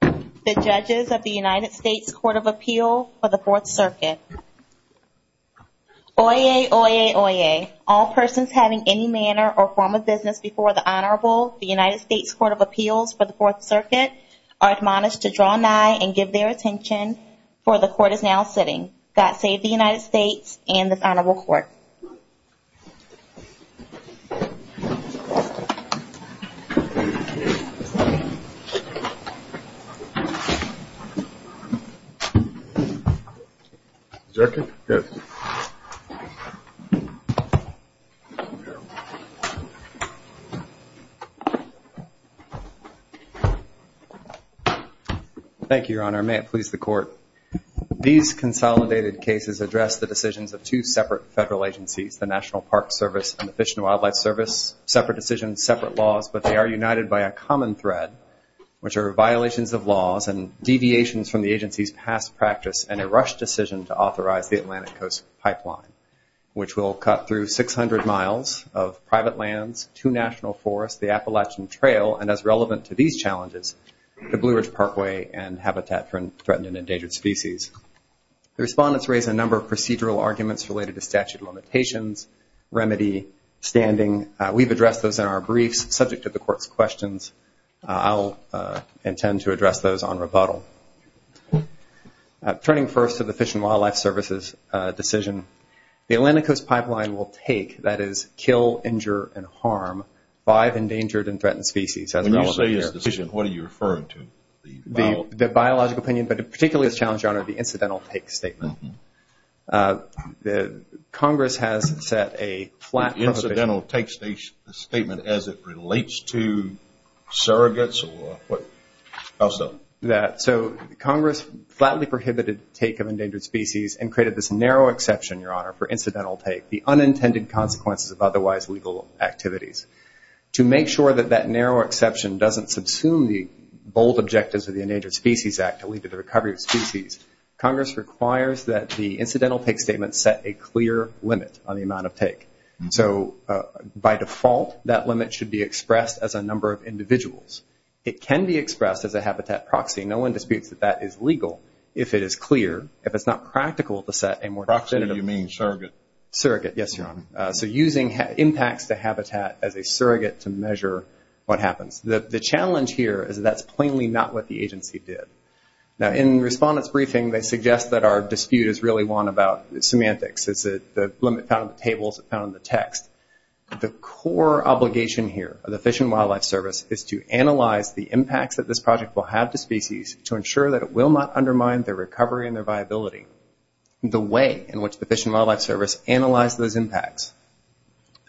The judges of the United States Court of Appeal for the Fourth Circuit. Oyez, oyez, oyez. All persons having any manner or form of business before the Honorable, the United States Court of Appeals for the Fourth Circuit are admonished to draw nigh and give their attention for the court is now sitting. God save the United States and this court. Thank you, Your Honor. May it please the court. These consolidated cases address the decisions of two separate federal agencies, the National Park Service and the Fish and Wildlife Service, separate decisions, separate laws, but they are united by a common thread, which are violations of laws and deviations from the agency's past practice and a rushed decision to authorize the Atlantic Coast Pipeline, which will cut through 600 miles of private lands, two national forests, the Appalachian Trail, and as relevant to these challenges, the Blue Ridge Parkway and habitat for threatened and endangered species. The respondents raised a number of procedural arguments related to statute of limitations, remedy, standing. We've addressed those in our briefs subject to the court's questions. I'll intend to address those on rebuttal. Turning first to the Fish and Wildlife Service's decision, the Atlantic Coast Pipeline will take, that is, kill, injure, and harm five endangered and threatened species. When you say this decision, what are you referring to? The biological opinion, but particularly this challenge, Your Honor, the incidental take statement. Congress has set a flat prohibition. Incidental take statement as it relates to surrogates or what else does it mean? So Congress flatly prohibited take of endangered species and created this narrow exception, Your Honor, for incidental take, the unintended consequences of otherwise legal activities. To make sure that that narrow exception doesn't subsume the bold objectives of the Endangered Species Act to lead to the recovery of species, Congress requires that the incidental take statement set a clear limit on amount of take. So by default, that limit should be expressed as a number of individuals. It can be expressed as a habitat proxy. No one disputes that that is legal if it is clear. If it's not practical to set a more definitive... Proxy, do you mean surrogate? Surrogate, yes, Your Honor. So using impacts to habitat as a surrogate to measure what happens. The challenge here is that's plainly not what the agency did. Now, in Respondent's briefing, they suggest that our dispute is really one about semantics. It's the limit found in the tables, found in the text. The core obligation here of the Fish and Wildlife Service is to analyze the impacts that this project will have to species to ensure that it will not undermine their recovery and their viability. The way in which the Fish and Wildlife Service analyzed those impacts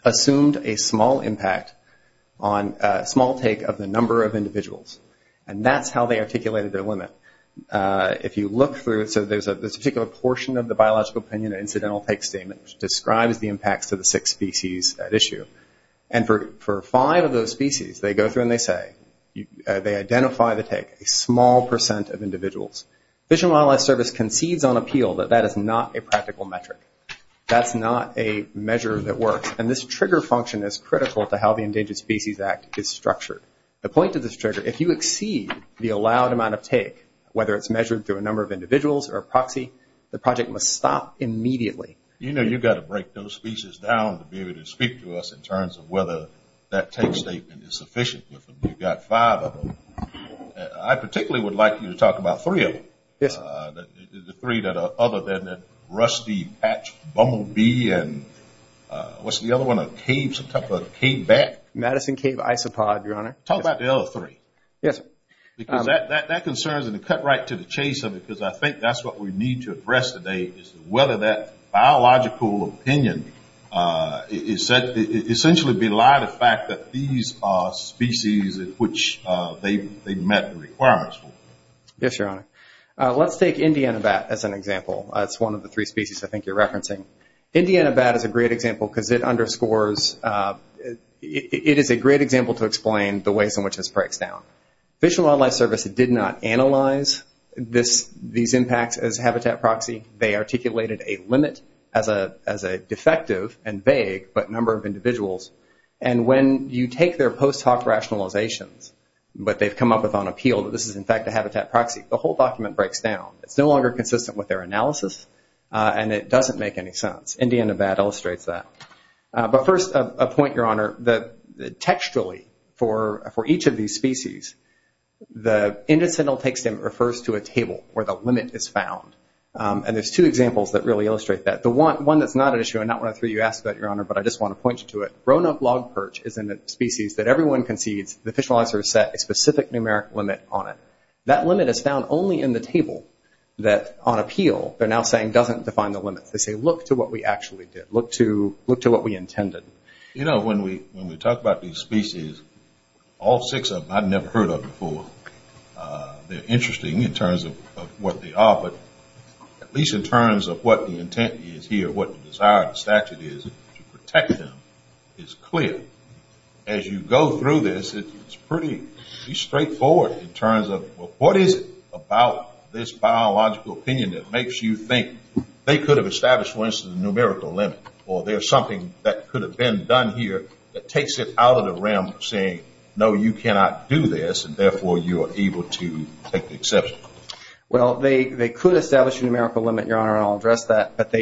assumed a small impact on a small take of the number of individuals, and that's how they there's a particular portion of the Biological Opinion Incidental Take Statement which describes the impacts to the six species at issue. And for five of those species, they go through and they say, they identify the take, a small percent of individuals. Fish and Wildlife Service concedes on appeal that that is not a practical metric. That's not a measure that works. And this trigger function is critical to how the Endangered Species Act is structured. The point of this trigger, if you exceed the allowed amount of take, whether it's measured through a number of individuals or a proxy, the project must stop immediately. You know you've got to break those species down to be able to speak to us in terms of whether that take statement is sufficient. You've got five of them. I particularly would like you to talk about three of them. Yes. The three that are other than that rusty hatched bumblebee and what's the other one, a cave, some type of cave bat? Madison Cave Isopod, Your Honor. Talk about the other three. Yes. Because that concerns and it cut right to the chase of it because I think that's what we need to address today is whether that Biological Opinion is essentially belied the fact that these are species in which they met the requirements for. Yes, Your Honor. Let's take Indiana bat as an example. It's one of the three because it underscores, it is a great example to explain the ways in which this breaks down. Fish and Wildlife Service did not analyze these impacts as habitat proxy. They articulated a limit as a defective and vague, but number of individuals. When you take their post hoc rationalizations, what they've come up with on appeal, this is in fact a habitat proxy. The whole document breaks down. It's no longer consistent with their analysis and it doesn't make any sense. Indiana bat illustrates that. First, a point, Your Honor. Textually for each of these species, the intestinal text refers to a table where the limit is found. There's two examples that really illustrate that. The one that's not an issue and not one of the three you asked about, Your Honor, but I just want to point you to it. Rona log perch is a species that everyone concedes the Fish and Wildlife Service set a specific numeric limit on it. That limit is found only in the table that on appeal, they're now saying doesn't define the limit. Look to what we actually did. Look to what we intended. When we talk about these species, all six of them, I've never heard of them before. They're interesting in terms of what they are, but at least in terms of what the intent is here, what the desired statute is to protect them, is clear. As you go through this, it's pretty straightforward in terms of what is it about this biological opinion that makes you think they could have established, for instance, a numerical limit, or there's something that could have been done here that takes it out of the realm of saying, no, you cannot do this, and therefore you are able to take the exception. Well, they could establish a numerical limit, Your Honor, and I'll address that, but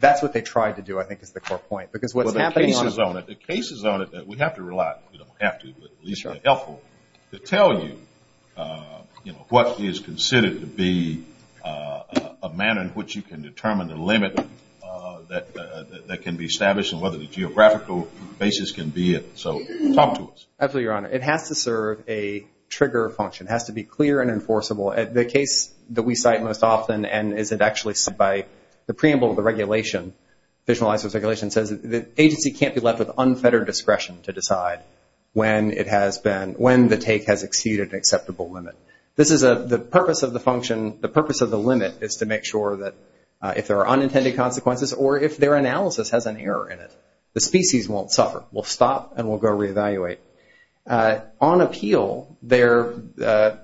that's what they tried to do I think is the core point. Well, the cases on it that we have to rely, we don't have to, but at least are helpful to tell you what is considered to be a manner in which you can determine the limit that can be established and whether the geographical basis can be it. So talk to us. Absolutely, Your Honor. It has to serve a trigger function. It has to be clear and enforceable. The case that we cite most often, and is it actually by the preamble of the regulation, Visualizing Circulation, says the agency can't be left with unfettered discretion to decide when the take has exceeded an acceptable limit. The purpose of the limit is to make sure that if there are unintended consequences or if their analysis has an error in it, the species won't suffer. We'll stop and we'll go re-evaluate. On appeal,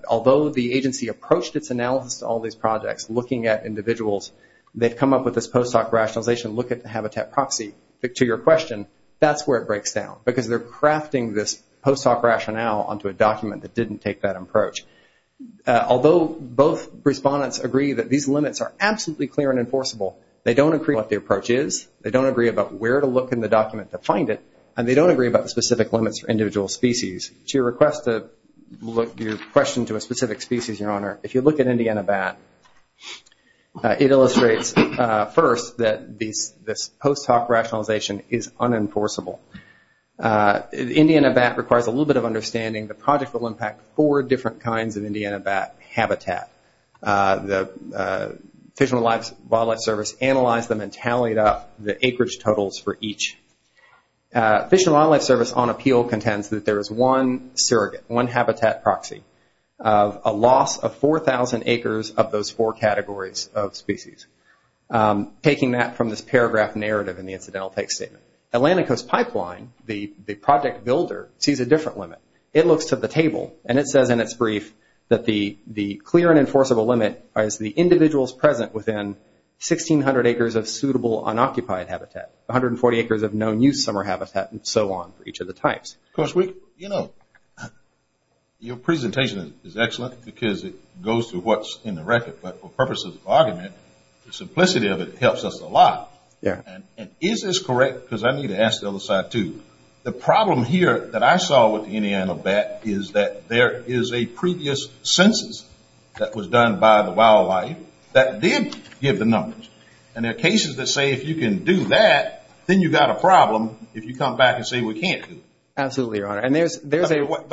although the agency approached its analysis to all these projects looking at post hoc rationalization, look at the habitat proxy, to your question, that's where it breaks down because they're crafting this post hoc rationale onto a document that didn't take that approach. Although both respondents agree that these limits are absolutely clear and enforceable, they don't agree what the approach is, they don't agree about where to look in the document to find it, and they don't agree about the specific limits for individual species. To your request to look your question to a specific species, Your Honor, if you look at first that this post hoc rationalization is unenforceable. Indiana bat requires a little bit of understanding. The project will impact four different kinds of Indiana bat habitat. The Fish and Wildlife Service analyzed them and tallied up the acreage totals for each. Fish and Wildlife Service on appeal contends that there is one surrogate, one habitat proxy of a loss of 4,000 acres of those four categories of species. Taking that from this paragraph narrative in the incidental text statement, Atlantic Coast Pipeline, the project builder, sees a different limit. It looks to the table and it says in its brief that the clear and enforceable limit is the individuals present within 1,600 acres of suitable unoccupied habitat, 140 acres of known use summer habitat, and so on for each of the types. Of course, you know, your presentation is excellent because it goes to what's in the record. But for purposes of argument, the simplicity of it helps us a lot. And is this correct? Because I need to ask the other side too. The problem here that I saw with Indiana bat is that there is a previous census that was done by the wildlife that did give the numbers. And there are cases that say if you can do that, then you've got a problem if you come back and say we can't do it. Absolutely, Your Honor. And there's a...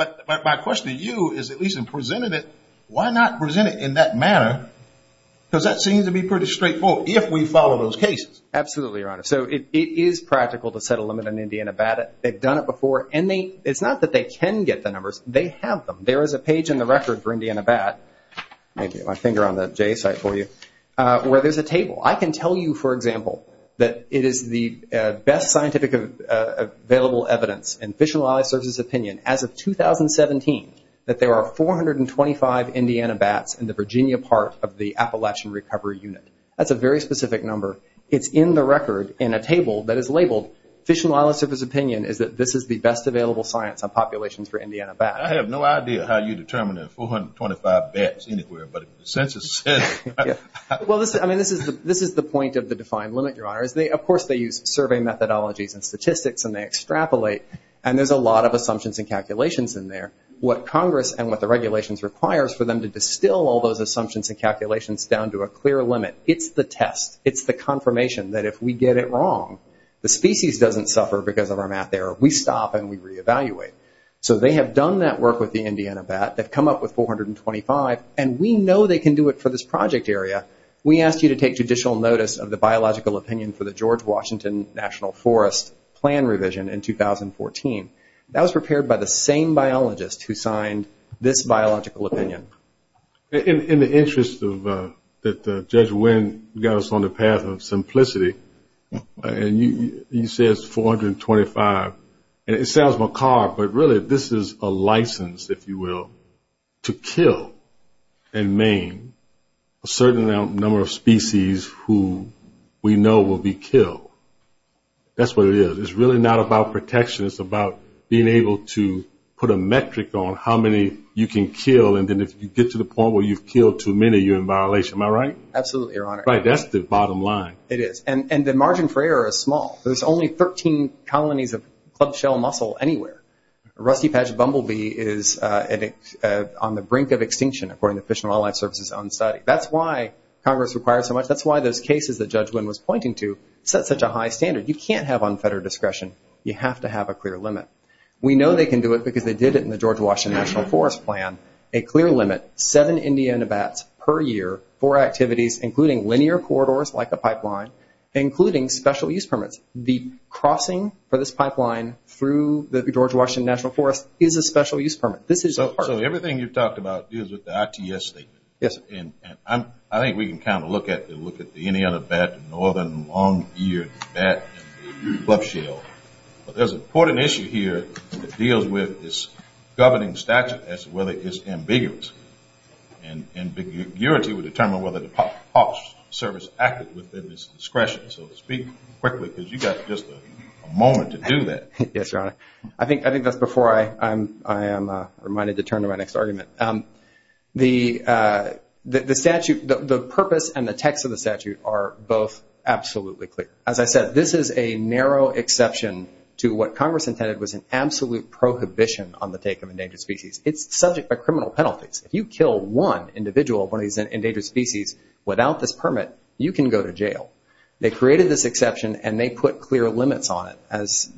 My question to you is at least in presenting it, why not present it in that manner? Because that seems to be pretty straightforward if we follow those cases. Absolutely, Your Honor. So it is practical to set a limit in Indiana bat. They've done it before and they... It's not that they can get the numbers, they have them. There is a page in the record for Indiana bat, maybe my finger on the J site for you, where there's a table. I can tell you, for example, that it is the best scientific available evidence and 2017 that there are 425 Indiana bats in the Virginia part of the Appalachian recovery unit. That's a very specific number. It's in the record in a table that is labeled Fish and Wildlife Service opinion is that this is the best available science on populations for Indiana bat. I have no idea how you determine 425 bats anywhere, but the census says it. Well, I mean, this is the point of the defined limit, Your Honor. Of course, they use survey methodologies and statistics and they extrapolate. And there's a lot of assumptions and calculations in there. What Congress and what the regulations requires for them to distill all those assumptions and calculations down to a clear limit. It's the test. It's the confirmation that if we get it wrong, the species doesn't suffer because of our math error. We stop and we reevaluate. So they have done that work with the Indiana bat. They've come up with 425 and we know they can do it for this project area. We asked you to take judicial notice of the biological opinion for the George Washington National Forest plan revision in 2014. That was prepared by the same biologist who signed this biological opinion. In the interest of that Judge Wynn got us on the path of simplicity and he says 425 and it sounds macabre, but really this is a license, if you will, to kill and maim a certain number of species who we know will be killed. That's what it is. It's really not about protection. It's about being able to put a metric on how many you can kill and then if you get to the point where you've killed too many, you're in violation. Am I right? Absolutely, Your Honor. Right. That's the bottom line. It is. And the margin for error is small. There's only 13 colonies of club shell mussel anywhere. Rusty patch bumblebee is on the brink of extinction according to Fish and Wildlife Service's own study. That's why Congress requires so much. That's why those cases that Judge Wynn was pointing to set such a high standard. You can't have unfettered discretion. You have to have a clear limit. We know they can do it because they did it in the George Washington National Forest plan. A clear limit, seven Indiana bats per year, four activities, including linear corridors like a pipeline, including special use permits. The crossing for this pipeline through the George Washington National Forest is a special use permit. So everything you've talked about deals with the ITS statement. Yes. And I think we can kind of look at the Indiana bat, northern long-eared bat, and club shell. But there's an important issue here that deals with this governing statute as to whether it's ambiguous. And ambiguity would determine whether the Park Service acted within its discretion. So speak quickly because you got just a moment to do that. Yes, Your Honor. I think that's before I am reminded to turn to my next argument. The purpose and the text of the statute are both absolutely clear. As I said, this is a narrow exception to what Congress intended was an absolute prohibition on the take of endangered species. It's subject by criminal penalties. If you kill one individual, one of these endangered species, without this permit, you can go to jail. They created this exception and they put clear limits on it. As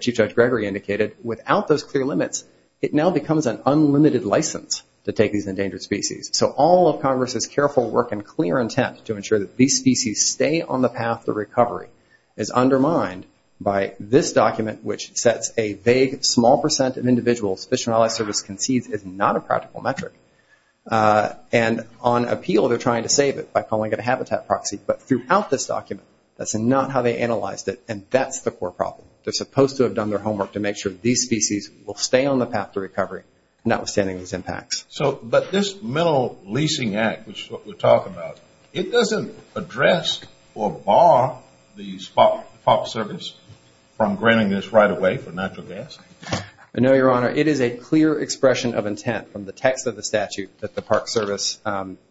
Chief Judge Gregory indicated, without those clear limits, it now becomes an unlimited license to take these endangered species. So all of Congress's careful work and clear intent to ensure that these species stay on the path to recovery is undermined by this document, which sets a vague small percent of individuals Fish and Wildlife Service concedes is not a practical metric. And on appeal, they're trying to save it by calling it a habitat proxy. But throughout this document, that's not how they analyzed it. And that's the core problem. They're supposed to have done their homework to make sure these species will stay on the path to recovery, notwithstanding these impacts. So but this Mineral Leasing Act, which is what we're talking about, it doesn't address or bar the Park Service from granting this right of way for natural gas. I know, Your Honor. It is a clear expression of intent from the text of the statute that the Park Service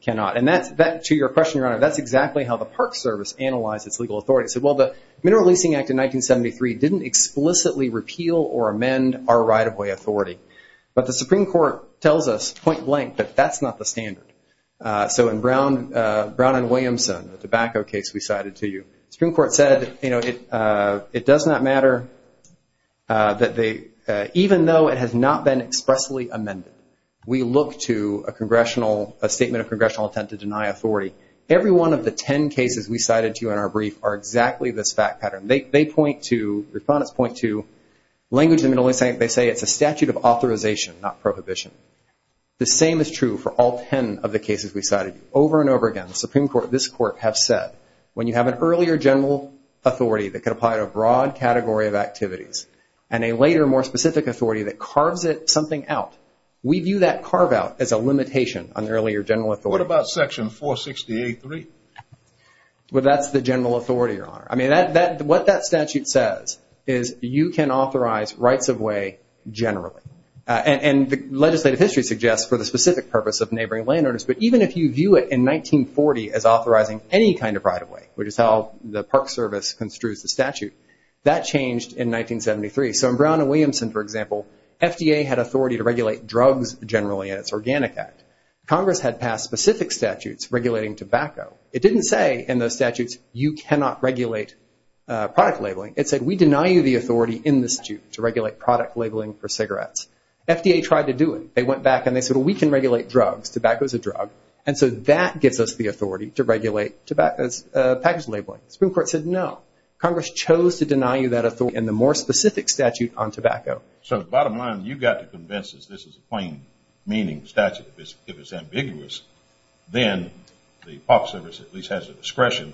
cannot. And that's back to your question, Your Honor. That's exactly how the Park Service analyzed its legal authority. It said, well, the Mineral Leasing Act in 1973 didn't explicitly repeal or amend our right of way authority. But the Supreme Court tells us point blank that that's not the standard. So in Brown and Williamson, the tobacco case we cited to you, the Supreme Court said, you know, it does not matter that they, even though it has not been expressly amended, we look to a congressional, a statement of congressional intent to deny authority. Every one of the 10 cases we cited to you in our brief are exactly this fact pattern. They point to, respondents point to, language in the Mineral Leasing Act, they say it's a statute of authorization, not prohibition. The same is true for all 10 of the cases we cited you. Over and over again, the Supreme Court, this Court, have said, when you have an earlier general authority that could apply to a broad category of activities, and a later, more specific authority that carves something out, we view that carve out as a limitation on the earlier general authority. What about Section 468.3? Well, that's the general authority, Your Honor. I mean, what that statute says is you can authorize rights-of-way generally. And the legislative history suggests for the specific purpose of neighboring landowners, but even if you view it in 1940 as authorizing any kind of right-of-way, which is how the Park Service construes the statute, that changed in 1973. So in Brown and Williamson, for example, FDA had authority to regulate drugs generally in its Organic Act. Congress had passed specific statutes regulating tobacco. It didn't say in those statutes, you cannot regulate product labeling. It said we deny you the authority in the statute to regulate product labeling for cigarettes. FDA tried to do it. They went back and they said, well, we can regulate drugs. Tobacco is a drug. And so that gives us the authority to regulate package labeling. The Supreme Court said no. Congress chose to deny you that authority in the more specific statute on tobacco. So bottom line, you got to convince us this is a plain-meaning statute. If it's ambiguous, then the Park Service at least has the discretion,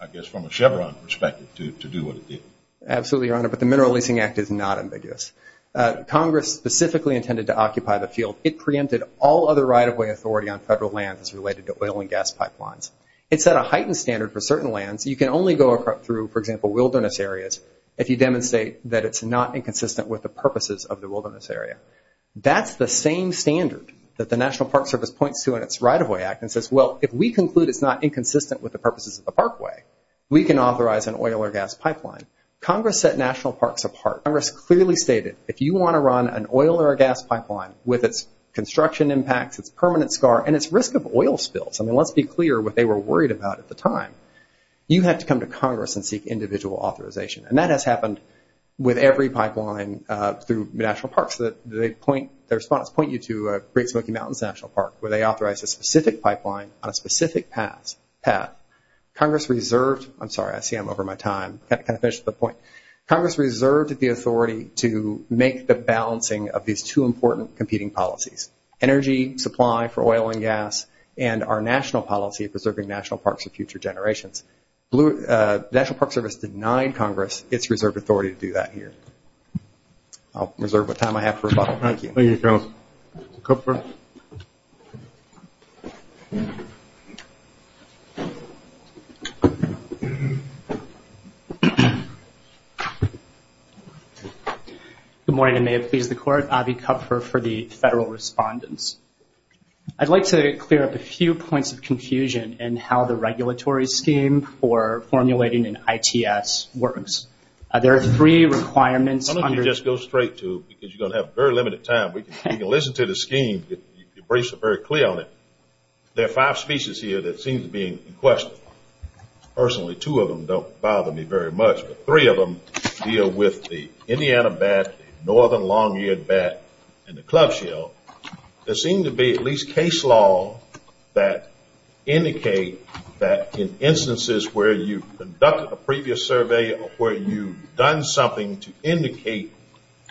I guess, from a Chevron perspective to do what it did. Absolutely, Your Honor, but the Mineral Leasing Act is not ambiguous. Congress specifically intended to occupy the field. It preempted all other right-of-way authority on federal lands as related to oil and gas pipelines. It set a heightened standard for certain lands. You can only go through, for example, wilderness areas if you demonstrate that it's not inconsistent with the purposes of the wilderness area. That's the same standard that the National Right-of-Way Act and says, well, if we conclude it's not inconsistent with the purposes of the parkway, we can authorize an oil or gas pipeline. Congress set national parks apart. Congress clearly stated, if you want to run an oil or a gas pipeline with its construction impacts, its permanent scar, and its risk of oil spills, I mean, let's be clear what they were worried about at the time, you have to come to Congress and seek individual authorization. And that has happened with every pipeline through national parks. The respondents point you to Great Smoky Mountains National Park where they authorize a specific pipeline on a specific path. Congress reserved the authority to make the balancing of these two important competing policies, energy supply for oil and gas, and our national policy of preserving national parks for future generations. National Park Service denied Congress its reserved authority to do that here. I'll reserve what time I have for rebuttal. Thank you. Thank you, Counsel. Mr. Kupfer. Good morning, and may it please the Court. Avi Kupfer for the Federal Respondents. I'd like to clear up a few points of confusion in how the regulatory scheme for formulating an ITS works. There are three requirements under this, go straight to, because you're going to have very limited time. You can listen to the scheme, your briefs are very clear on it. There are five species here that seem to be in question. Personally, two of them don't bother me very much, but three of them deal with the Indiana bat, the northern long-eared bat, and the club shell. There seem to be at least case law that indicate that in instances where you've conducted a previous survey where you've done something to indicate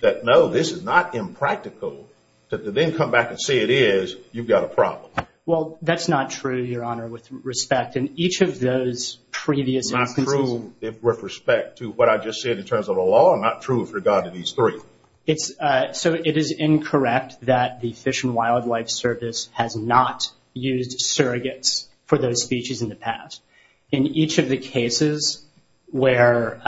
that, no, this is not impractical, to then come back and say it is, you've got a problem. Well, that's not true, Your Honor, with respect in each of those previous instances. Not true with respect to what I just said in terms of the law, not true with regard to these three. So it is incorrect that the Fish and Wildlife Service has not used surrogates for those species in the past. In each of the cases where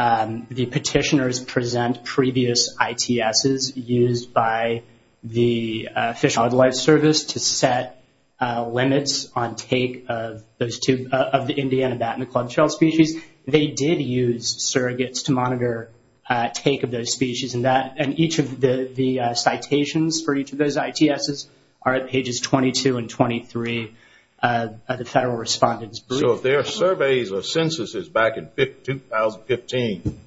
the petitioners present previous ITSs used by the Fish and Wildlife Service to set limits on take of those two, of the Indiana bat and the club shell species, they did use surrogates to monitor take of those species. And each of the citations for each of those ITSs are at pages 22 and 23 of the Federal Respondent's Brief. So if there are surveys or censuses back in 2015,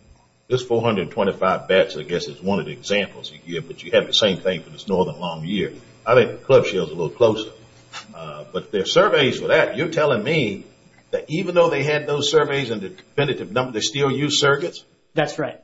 this 425 bats I guess is one of the examples you give, but you have the same thing for this northern long year. I think the club shell is a little closer. But there are surveys for that. You're telling me that even though they had those surveys and the competitive numbers, they still used surrogates? That's right.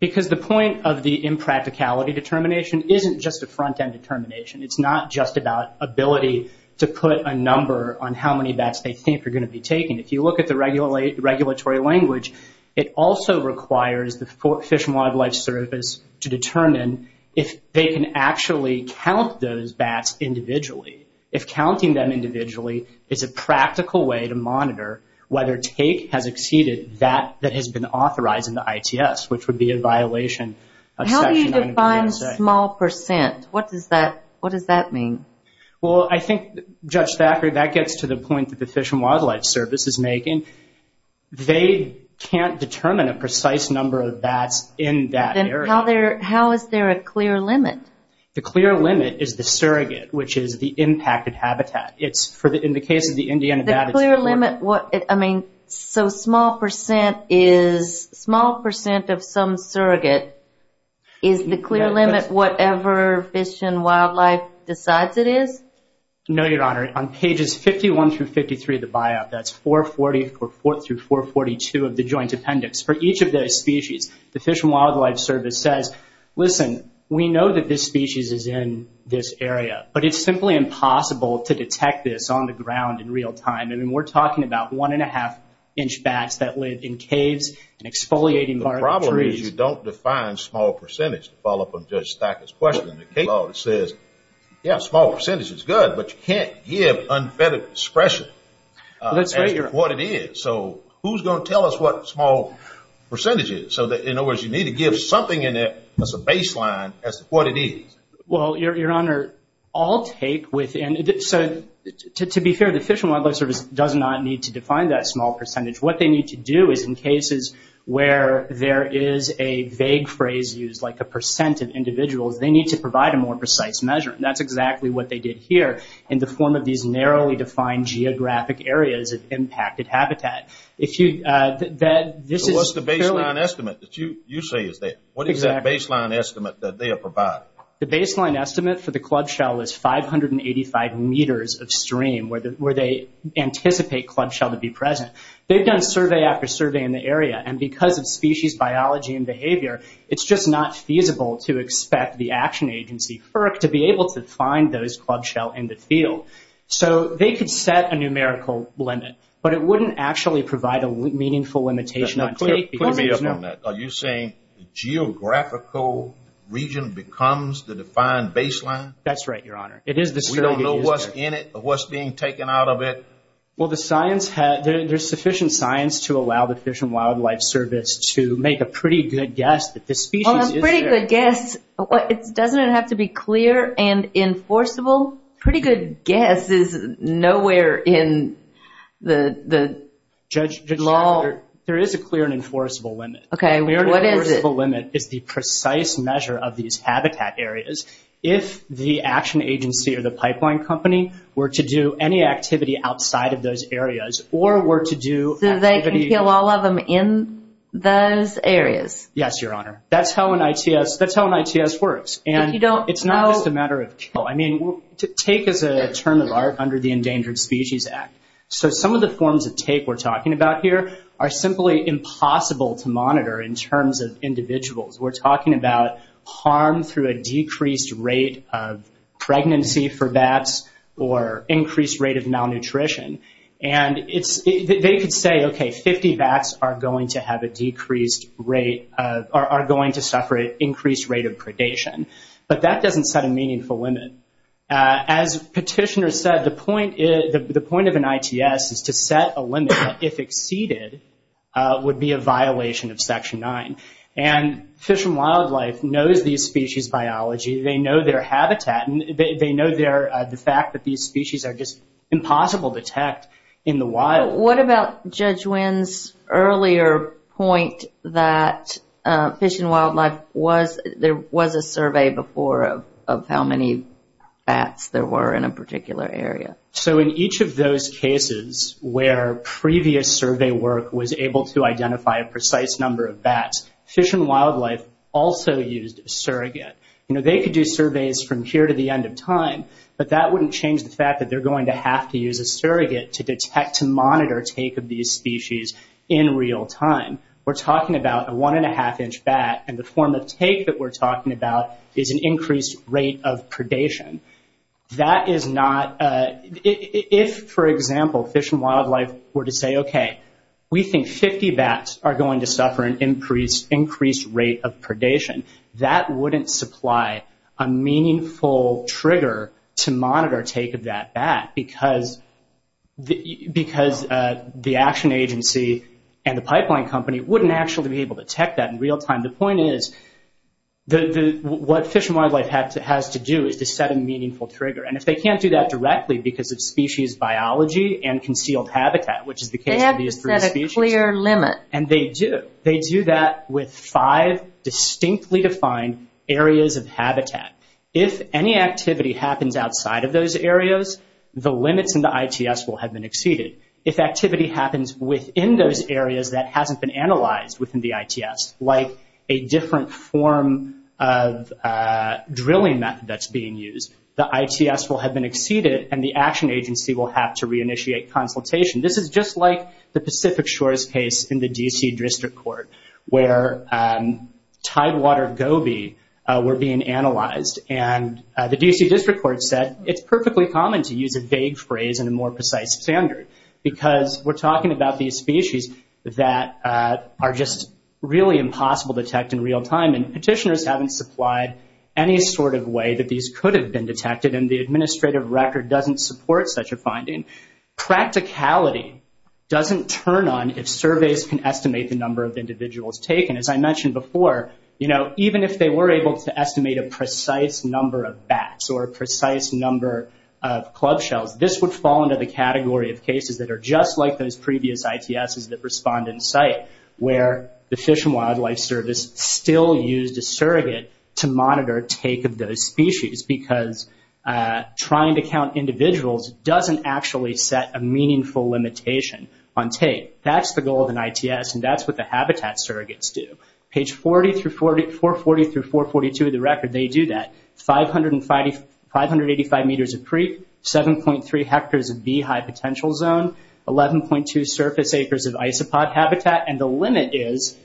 Because the point of the impracticality determination isn't just a front-end determination. It's not just about ability to put a number on how many bats they think are going to be taken. If you look at the regulatory language, it also requires the Fish and Wildlife Service to determine if they can actually count those bats individually. If counting them individually is a practical way to monitor whether take has exceeded that that has been authorized in the ITS, which would be a violation of Section 904. How do you define small percent? What does that mean? Well, I think, Judge Thackeray, that gets to the point that the Fish and Wildlife Service is making. They can't determine a precise number of bats in that area. How is there a clear limit? The clear limit is the surrogate, which is the impacted habitat. In the case of the Indiana bat, it's... The clear limit, I mean, so small percent of some surrogate is the clear limit whatever Fish and Wildlife decides it is? No, Your Honor. On pages 51 through 53 of the buyout, that's 444 through 442 of the joint appendix, for each of those species, the Fish and Wildlife Service says, listen, we know that this species is in this area, but it's simply impossible to detect this on the ground in real time. I mean, we're talking about one and a half inch bats that live in caves and exfoliating part of the trees. You don't define small percentage to follow up on Judge Thackeray's question. The case law says, yeah, small percentage is good, but you can't give unfettered expression what it is. Who's going to tell us what small percentage is? In other words, you need to give something in there as a baseline as to what it is. Well, Your Honor, I'll take with... To be fair, the Fish and Wildlife Service does not need to a vague phrase used like a percent of individuals. They need to provide a more precise measure. That's exactly what they did here in the form of these narrowly defined geographic areas of impacted habitat. What's the baseline estimate that you say is there? What is that baseline estimate that they are providing? The baseline estimate for the club shell is 585 meters of stream where they anticipate club shell to be present. They've done survey after survey in the area, and because of species, biology, and behavior, it's just not feasible to expect the action agency FERC to be able to find those club shell in the field. So they could set a numerical limit, but it wouldn't actually provide a meaningful limitation on take because there's no... Are you saying the geographical region becomes the defined baseline? That's right, Your Honor. It is the... We don't know what's in it or what's being taken out of it? Well, there's sufficient science to allow the Fish and Wildlife Service to make a pretty good guess that the species is there. A pretty good guess? Doesn't it have to be clear and enforceable? Pretty good guess is nowhere in the law. Judge, there is a clear and enforceable limit. Okay, what is it? The clear and enforceable limit is the precise measure of these habitat areas. If the action agency or the pipeline company were to do any activity outside of those areas or were to do activity... So they can kill all of them in those areas? Yes, Your Honor. That's how an ITS works. If you don't know... It's not just a matter of kill. I mean, take is a term of art under the Endangered Species Act. So some of the forms of take we're talking about here are simply impossible to monitor in terms of rate of pregnancy for bats or increased rate of malnutrition. They could say, okay, 50 bats are going to suffer an increased rate of predation. But that doesn't set a meaningful limit. As Petitioner said, the point of an ITS is to set a limit that, if exceeded, would be a violation of Section 9. And Fish and Wildlife knows these species' biology. They know their habitat. They know the fact that these species are just impossible to detect in the wild. What about Judge Wynn's earlier point that Fish and Wildlife was... There was a survey before of how many bats there were in a particular area. So in each of those cases where previous survey work was able to identify a precise number of bats, Fish and Wildlife also used a surrogate. They could do surveys from here to the end of time, but that wouldn't change the fact that they're going to have to use a surrogate to detect, to monitor take of these species in real time. We're talking about a one and a half inch bat, and the form of take that we're talking about is an increased rate of predation. That is not... If, for example, Fish and Wildlife were to say, okay, we think 50 bats are going to suffer an increased rate of predation, that wouldn't supply a meaningful trigger to monitor take of that bat because the action agency and the pipeline company wouldn't actually be able to detect that in real time. The point is what Fish and Wildlife has to do is to set a meaningful trigger. If they can't do that directly because of species biology and concealed habitat, which is the case of these three species... They have to set a clear limit. And they do. They do that with five distinctly defined areas of habitat. If any activity happens outside of those areas, the limits in the ITS will have been exceeded. If activity happens within those areas that hasn't been analyzed within the ITS, like a different form of drilling method that's being used, the ITS will have been exceeded and the action agency will have to reinitiate consultation. This is just like the Pacific Shores case in the D.C. District Court where tidewater goby were being analyzed. And the D.C. District Court said it's perfectly common to use a vague phrase and a more precise standard because we're talking about these species that are just really impossible to detect in real time. And petitioners haven't supplied any sort of way that these could have been detected. And the administrative record doesn't support such a finding. Practicality doesn't turn on if surveys can estimate the number of individuals taken. As I mentioned before, even if they were able to estimate a precise number of bats or a precise number of club shells, this would fall into the category of cases that are just like those previous ITSs that respond in site where the Fish and Wildlife Service still used a surrogate to monitor take of those species because trying to count individuals doesn't actually set a meaningful limitation on take. That's the goal of an ITS and that's what the habitat surrogates do. Page 440 through 442 of the record, they do that. 585 meters of creek, 7.3 hectares of beehive potential zone, 11.2 surface acres of isopod habitat. And the limit is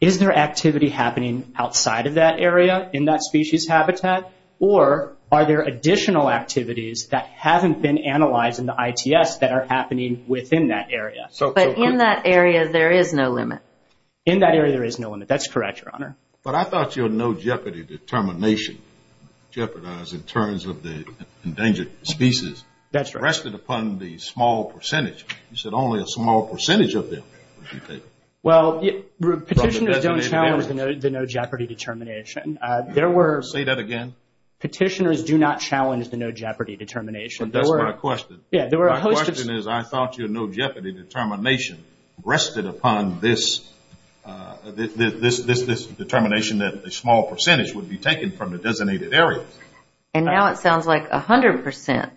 is there activity happening outside of that area in that species habitat or are there additional activities that haven't been analyzed in the ITS that are happening within that area? But in that area, there is no limit. In that area, there is no limit. That's correct, Your Honor. But I thought your no jeopardy determination jeopardized in terms of the endangered species rested upon the small percentage of them. Well, petitioners don't challenge the no jeopardy determination. Say that again. Petitioners do not challenge the no jeopardy determination. That's my question. Yeah. My question is I thought your no jeopardy determination rested upon this determination that a small percentage would be taken from the designated areas. And now it sounds like 100%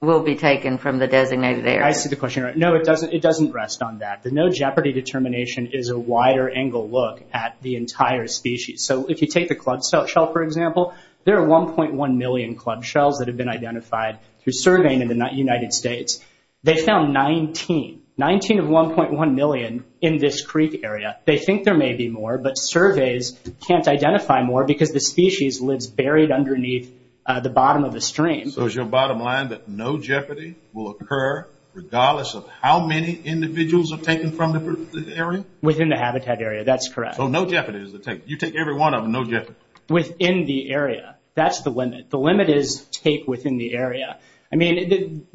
will be taken from the designated areas. I see the question. No, it doesn't rest on that. The no jeopardy determination is a wider angle look at the entire species. So if you take the club shell, for example, there are 1.1 million club shells that have been identified through surveying in the United States. They found 19, 19 of 1.1 million in this creek area. They think there may be more, but surveys can't identify more because the species lives buried underneath the bottom of the stream. So is your bottom line that no jeopardy will occur regardless of how many individuals are taken from the area? Within the habitat area. That's correct. So no jeopardy is the take. You take every one of them, no jeopardy. Within the area. That's the limit. The limit is take within the area. I mean,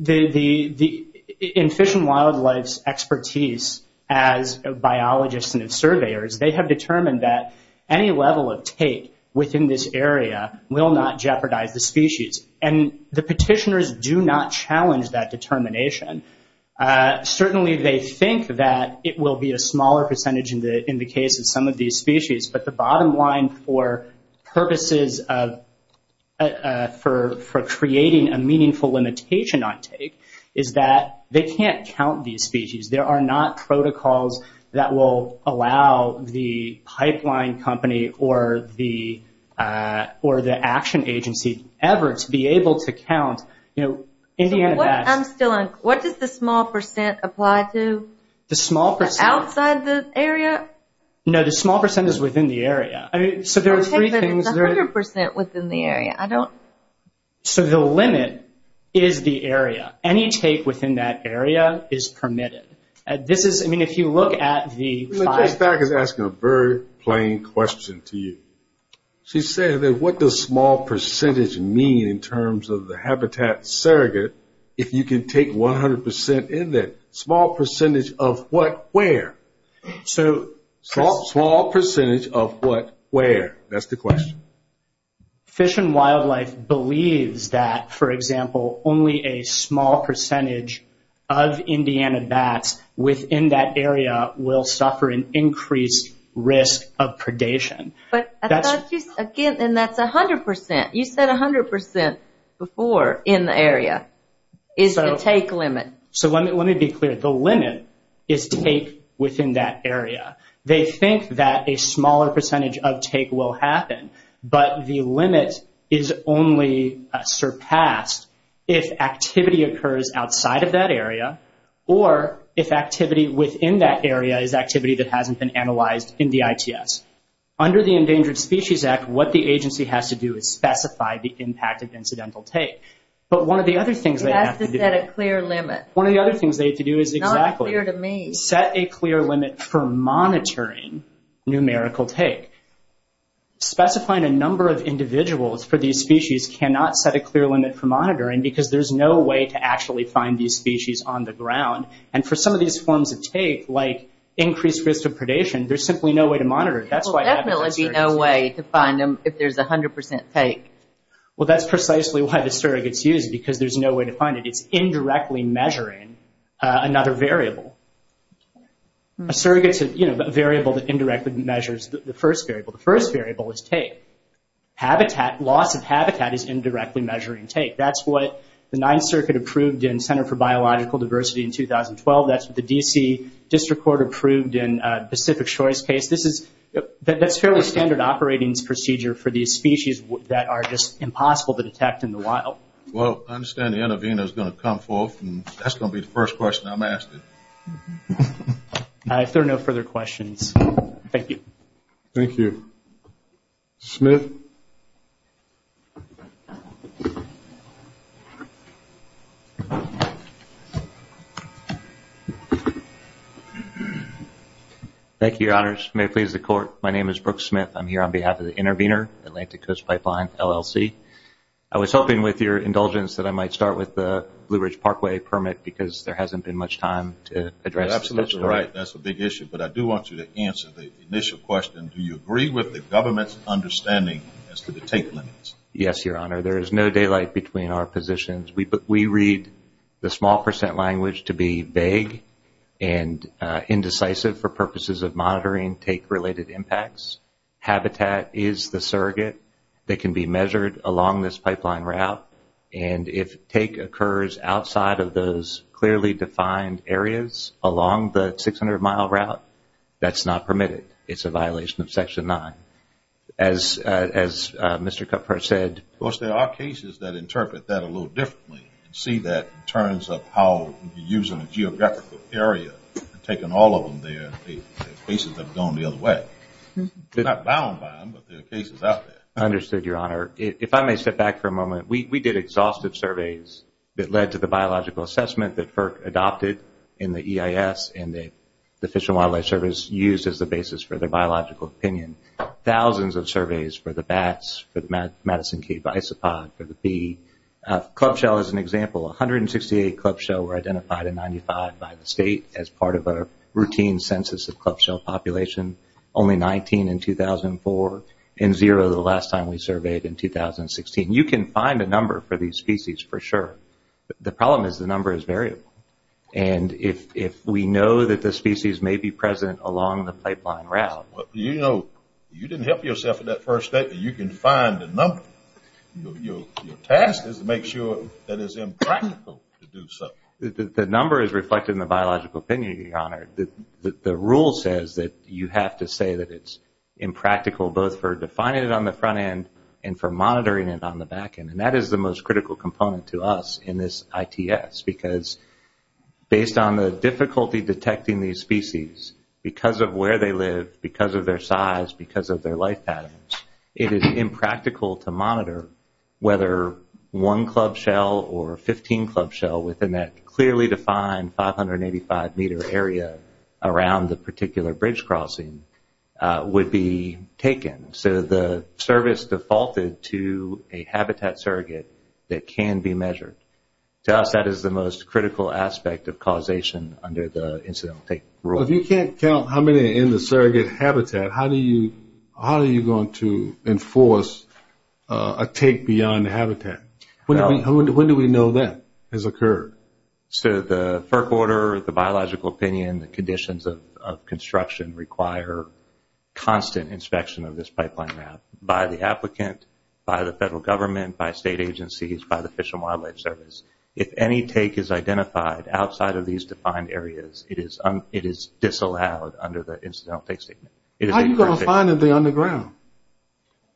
in Fish and Wildlife's expertise as biologists and surveyors, they have determined that any level of take within this area will not jeopardize the species. And the petitioners do not challenge that determination. Certainly they think that it will be a smaller percentage in the case of some of these species, but the bottom line for purposes of, for creating a meaningful limitation on take, is that they can't count these species. There are not protocols that will allow the pipeline company or the action agency ever to be able to count, you know, Indiana bass. I'm still on, what does the small percent apply to? The small percent. Outside the area? No, the small percent is within the area. I mean, so there are three things. It's 100% within the area. I don't. So the limit is the area. Any take within that area is permitted. This is, I mean, if you look at the five. Just back is asking a very plain question to you. She said that what does small percentage mean in terms of the habitat surrogate, if you can take 100% in that small percentage of what, where? So small percentage of what, where? That's the question. Fish and Wildlife believes that, for example, only a small percentage of Indiana bats within that area will suffer an increased risk of predation. But that's just again, and that's 100%. You said 100% before in the area is the take limit. So let me be clear. The limit is take within that area. They think that a smaller percentage of take will happen, but the limit is only surpassed if activity occurs outside of that area or if activity within that area is activity that hasn't been analyzed in the ITS. Under the Endangered Species Act, what the agency has to do is specify the impact of incidental take. But one of the other things they have to do is exactly set a clear limit for monitoring numerical take. Specifying a number of individuals for these species cannot set a clear limit for monitoring because there's no way to actually find these species on the ground. And for some of these forms of take, like increased risk of predation, there's simply no way to monitor it. There will definitely be no way to find them if there's 100% take. Well, that's precisely why surrogates use it, because there's no way to find it. It's indirectly measuring another variable. A surrogate's a variable that indirectly measures the first variable. The first variable is take. Loss of habitat is indirectly measuring take. That's what the Ninth Circuit approved in Center for Biological Diversity in 2012. That's what the D.C. District Court approved in Pacific Choice case. That's fairly standard operating procedure for these species that are just Well, I understand the intervener is going to come forth, and that's going to be the first question I'm asked. If there are no further questions, thank you. Thank you. Smith? Thank you, Your Honors. May it please the Court. My name is Brooke Smith. I'm here on behalf of Indulgence that I might start with the Blue Ridge Parkway permit, because there hasn't been much time to address this. That's right. That's a big issue, but I do want you to answer the initial question. Do you agree with the government's understanding as to the take limits? Yes, Your Honor. There is no daylight between our positions. We read the small percent language to be vague and indecisive for purposes of monitoring take-related impacts. Habitat is the surrogate that can be measured along this pipeline route, and if take occurs outside of those clearly defined areas along the 600-mile route, that's not permitted. It's a violation of Section 9. Of course, there are cases that interpret that a little differently and see that in terms of how you're using a geographical area and taking all of them there. There are cases that have gone If I may step back for a moment, we did exhaustive surveys that led to the biological assessment that FERC adopted in the EIS and the Fish and Wildlife Service used as the basis for their biological opinion. Thousands of surveys for the bats, for the Madison Cave isopod, for the bee. Club shell is an example. 168 club shell were identified in 1995 by the state as part of a census of club shell population. Only 19 in 2004 and zero the last time we surveyed in 2016. You can find a number for these species for sure. The problem is the number is variable, and if we know that the species may be present along the pipeline route. You know, you didn't help yourself with that first statement. You can find the number. Your task is to make sure that it's impractical to do so. The number is reflected in the biological opinion, your honor. The rule says that you have to say that it's impractical both for defining it on the front end and for monitoring it on the back end, and that is the most critical component to us in this ITS because based on the difficulty detecting these species because of where they live, because of their size, because of their life patterns, it is impractical to monitor whether one club shell or 15 club shell within that clearly defined 585-meter area around the particular bridge crossing would be taken. So the service defaulted to a habitat surrogate that can be measured. To us, that is the most critical aspect of causation under the incidental take rule. If you can't count how many in the How are you going to enforce a take beyond the habitat? When do we know that has occurred? So the FERC order, the biological opinion, the conditions of construction require constant inspection of this pipeline route by the applicant, by the federal government, by state agencies, by the Fish and Wildlife Service. If any take is identified outside of these defined areas, it is disallowed under the incidental take statement. How are you going to find anything underground?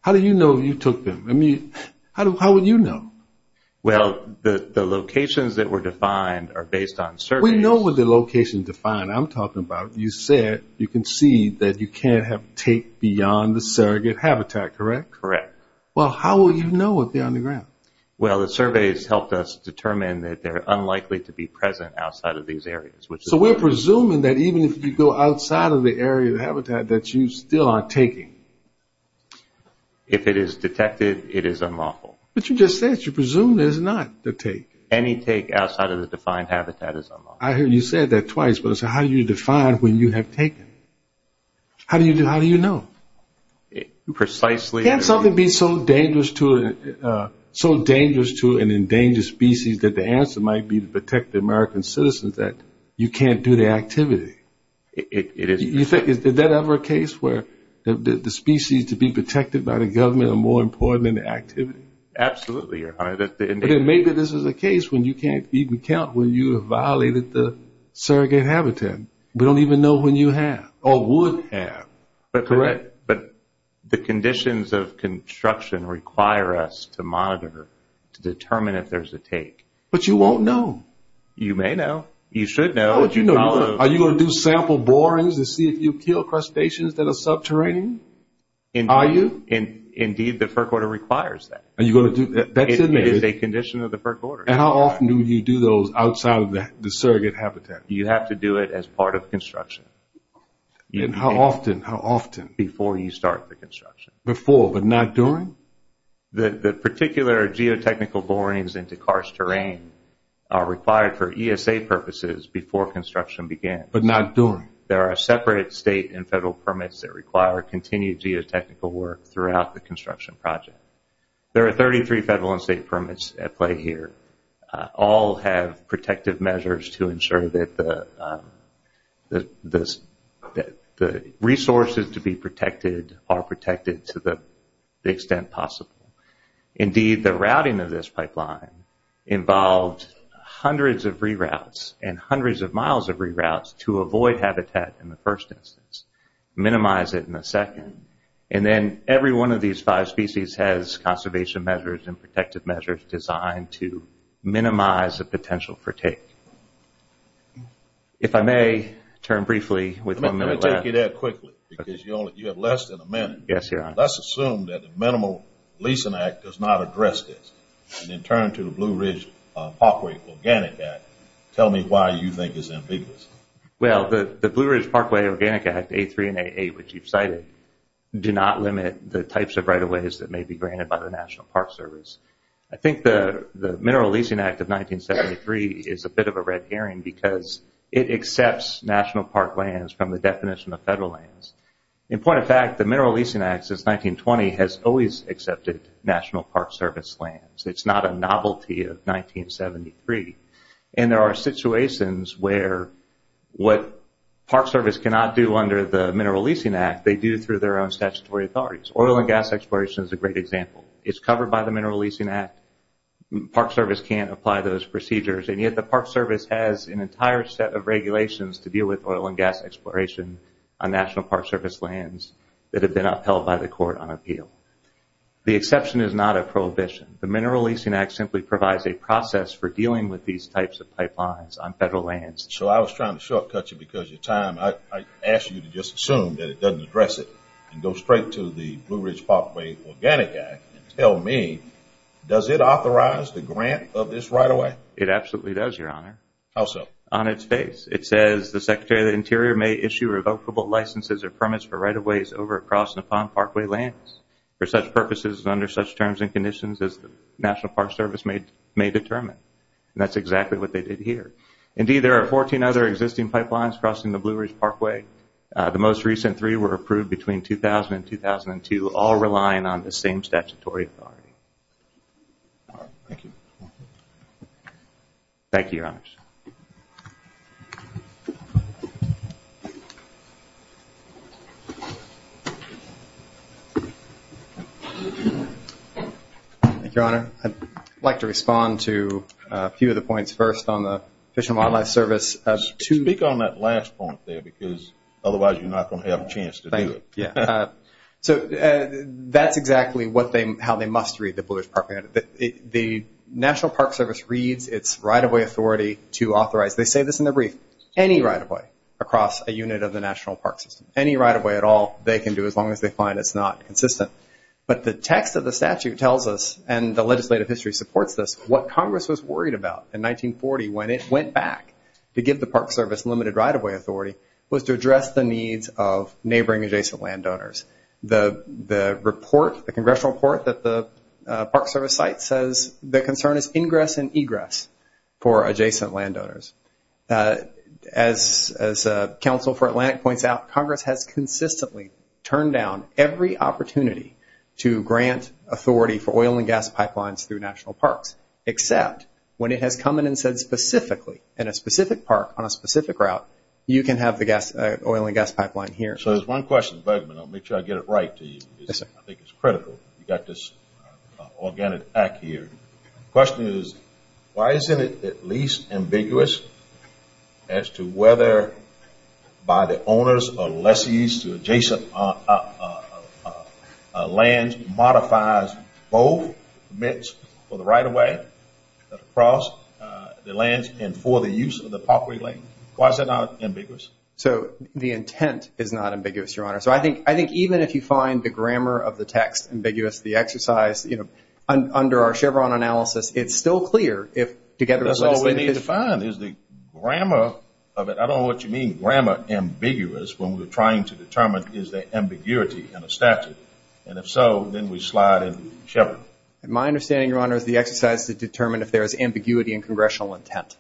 How do you know you took them? How would you know? Well, the locations that were defined are based on surveys. We know what the location defined. I'm talking about you said you can see that you can't have take beyond the surrogate habitat, correct? Correct. Well, how would you know what's on the ground? Well, the surveys helped us determine that they're unlikely to be present outside of these areas. So we're presuming that even if you go outside of the area of the habitat that you still are taking? If it is detected, it is unlawful. But you just said you presume there's not a take. Any take outside of the defined habitat is unlawful. I heard you say that twice, but how do you define when you have taken? How do you know? Precisely... Can't something be so dangerous to an endangered species that the answer might be to protect the American citizens that you can't do the activity? Is that ever a case where the species to be protected by the government are more important than the activity? Absolutely, Your Honor. But then maybe this is a case when you can't even count when you have violated the surrogate habitat. We don't even know when you have or would have, correct? But the conditions of construction require us to monitor to determine if there's a take. But you won't know. You may know. You should know. Are you going to do sample borings to see if you kill crustaceans that are subterranean? Indeed, the FERC order requires that. It is a condition of the FERC order. How often do you do those outside of the surrogate habitat? You have to do it as part of construction. How often? How often? Before you start the construction. Before, but not during? The particular geotechnical borings into karst terrain are required for ESA purposes before construction begins. But not during? There are separate state and federal permits that require continued geotechnical work throughout the construction project. There are 33 federal and state permits at play here. All have protective measures to ensure that the resources to be protected are protected to the extent possible. Indeed, the routing of this pipeline involved hundreds of re-routes and hundreds of miles of re-routes to avoid habitat in the first instance, minimize it in the second, and then every one of these five species has conservation measures and protective measures designed to minimize the potential for take. If I may turn briefly with one minute left. Let me take you there quickly because you have less than a minute. Yes, Your Honor. Let's assume that the Mineral Leasing Act does not address this and then turn to the Blue Ridge Parkway Organic Act. Tell me why you think it's ambiguous. Well, the Blue Ridge Parkway Organic Act, A3 and A8, which you've cited, do not limit the types of right-of-ways that may be granted by the National Park Service. I think the Mineral Leasing Act of 1973 is a bit of a red herring because it accepts national park lands from the definition of federal lands. In point of fact, the Mineral Leasing Act since 1920 has always accepted National Park Service lands. It's not a novelty of 1973. There are situations where what Park Service cannot do under the Mineral Leasing Act, they do through their own statutory authorities. Oil and gas exploration is a great example. It's covered by the Mineral Leasing Act. Park Service can't apply those procedures, and yet the Park Service has an entire set regulations to deal with oil and gas exploration on National Park Service lands that have been upheld by the court on appeal. The exception is not a prohibition. The Mineral Leasing Act simply provides a process for dealing with these types of pipelines on federal lands. So I was trying to shortcut you because your time. I asked you to just assume that it doesn't address it and go straight to the Blue Ridge Parkway Organic Act and tell me, does it authorize the grant of this right-of-way? It absolutely does, Your Honor. How so? On its face. It says, The Secretary of the Interior may issue revocable licenses or permits for right-of-ways over and across Nippon Parkway lands for such purposes and under such terms and conditions as the National Park Service may determine. And that's exactly what they did here. Indeed, there are 14 other existing pipelines crossing the Blue Ridge Parkway. The most recent three were approved between 2000 and 2002, Thank you. Thank you, Your Honor. I'd like to respond to a few of the points first on the Fish and Wildlife Service. Speak on that last point there because otherwise you're not going to have a chance to do it. Yeah. So that's exactly how they must read the Blue Ridge Parkway. The National Park Service reads its right-of-way authority to authorize. They say this in their brief. Any right-of-way across a unit of the National Park System, any right-of-way at all, they can do as long as they find it's not consistent. But the text of the statute tells us, and the legislative history supports this, what Congress was worried about in 1940 when it went back to give the Park Service limited right-of-way authority was to address the needs of neighboring adjacent landowners. The report, the congressional report that the Park Service cite says the concern is ingress and egress for adjacent landowners. As counsel for Atlantic points out, Congress has consistently turned down every opportunity to grant authority for oil and gas pipelines through national parks, except when it has come in and said specifically in a specific park on a specific route, you can have the oil and gas pipeline here. So there's one question, and I'll make sure I get it right to you. Yes, sir. I think it's critical. You've got this organic act here. Question is, why isn't it at least ambiguous as to whether by the owners or lessees to adjacent land modifies both permits for the right-of-way across the land and for the use of the parkway lane? Why is it not ambiguous? So the intent is not ambiguous, Your Honor. So I think even if you find the grammar of the text ambiguous, the exercise, under our Chevron analysis, it's still clear if together... That's all we need to find is the grammar of it. I don't know what you mean, grammar ambiguous, when we're trying to determine, is there ambiguity in a statute? And if so, then we slide into Chevron. My understanding, Your Honor, is the exercise to determine if there is ambiguity in congressional intent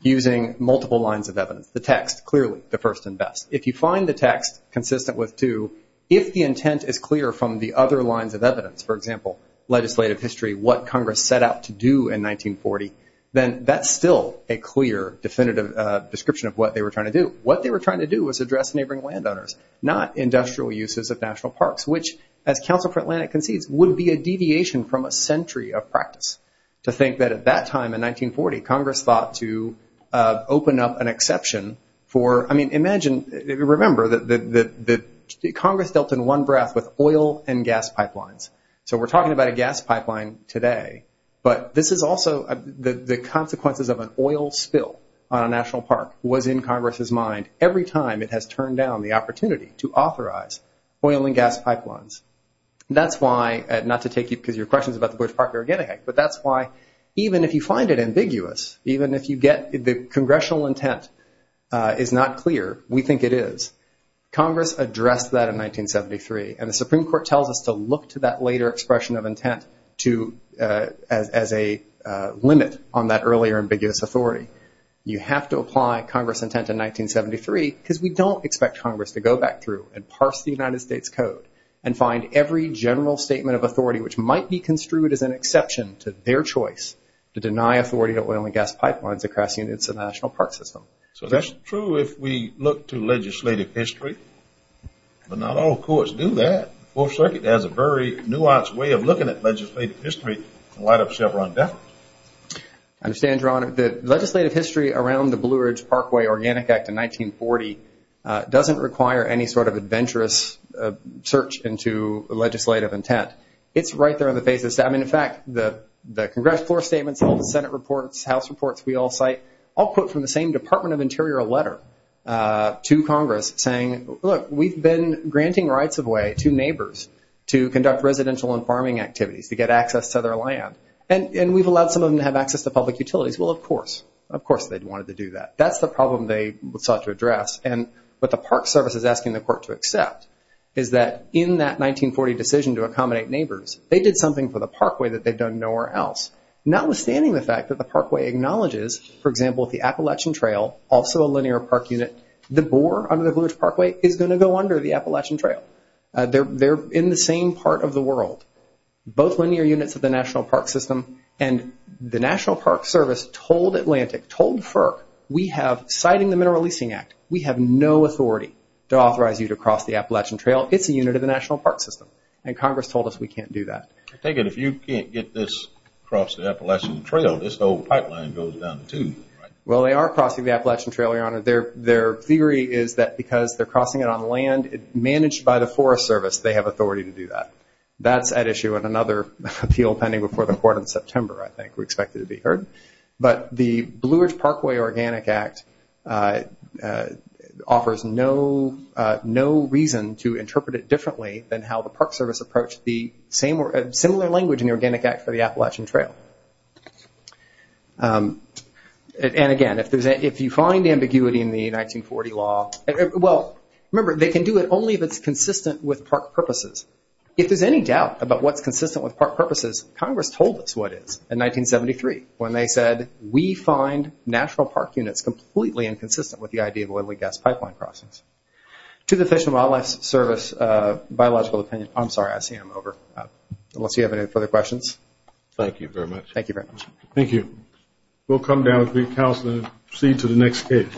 using multiple lines of evidence. The text, clearly, the first and best. If you find the text consistent with two, if the intent is clear from the other lines of evidence, for example, legislative history, what Congress set out to do in 1940, then that's still a clear, definitive description of what they were trying to do. What they were trying to do was address neighboring landowners, not industrial uses of national parks, which, as Council for Atlantic concedes, would be a deviation from a century of practice to think that at that time in 1940, Congress thought to open up an exception for... Remember that Congress dealt in one breath with oil and gas pipelines. So we're talking about a gas pipeline today, but this is also... The consequences of an oil spill on a national park was in Congress's mind every time it has turned down the opportunity to authorize oil and gas pipelines. That's why... Not to take your questions about the Bush Park, but that's why even if you find it ambiguous, even if you get... The congressional intent is not clear. We think it is. Congress addressed that in 1973, and the Supreme Court tells us to look to that later expression of intent as a limit on that earlier ambiguous authority. You have to apply Congress's intent in 1973 because we don't expect Congress to go back through and parse the United States Code and find every general statement of authority, which might be construed as an exception to their choice to deny authority to oil and gas pipelines across units of the national park system. So that's true if we look to legislative history, but not all courts do that. The Fourth Circuit has a very nuanced way of looking at legislative history in light of Chevron deference. I understand, Your Honor, that legislative history around the Blue Ridge Parkway Organic Act in 1940 doesn't require any sort of adventurous search into legislative intent. It's right there on the basis... I mean, in fact, the Congress floor statements, all the Senate reports, House reports we all cite, all put from the same Department of Interior letter to Congress saying, look, we've been granting rights of way to neighbors to conduct residential and farming activities to get access to their land, and we've allowed some of them to have access to public utilities. Well, of course. Of course they wanted to do that. That's the problem they sought to address. And what the Park Service is asking the court to accept is that in that 1940 decision to accommodate neighbors, they did something for the Parkway that they've done nowhere else. Notwithstanding the fact that the Parkway acknowledges, for example, the Appalachian Trail, also a linear park unit, the bore under the Blue Ridge Parkway is going to go under the Appalachian Trail. They're in the same part of the world. Both linear units of the National Park System, and the National Park Service told Atlantic, told FERC, we have, citing the Mineral Leasing Act, we have no authority to authorize you to cross the Appalachian Trail. It's a unit of the National Park System. And Congress told us we can't do that. I take it if you can't get this across the Appalachian Trail, this whole pipeline goes down the tube, right? Well, they are crossing the Appalachian Trail, Your Honor. Their theory is that because they're crossing it on land managed by the Forest Service, they have authority to do that. That's at issue in another appeal pending before the court in September, I think. We expect it to be heard. But the Blue Ridge Parkway Organic Act offers no reason to interpret it differently than how the Park Service approached the similar language in the Organic Act for the Appalachian Trail. And again, if you find ambiguity in the 1940 law, well, remember, they can do it only if it's consistent with park purposes. If there's any doubt about what's consistent with park purposes, Congress told us what is in 1973 when they said, we find national park units completely inconsistent with the idea of oil and gas pipeline crossings. To the Fish and Wildlife Service, biological opinion, I'm sorry, I see him over, unless you have any further questions. Thank you very much. Thank you very much. Thank you. We'll come down with the counsel and proceed to the next case.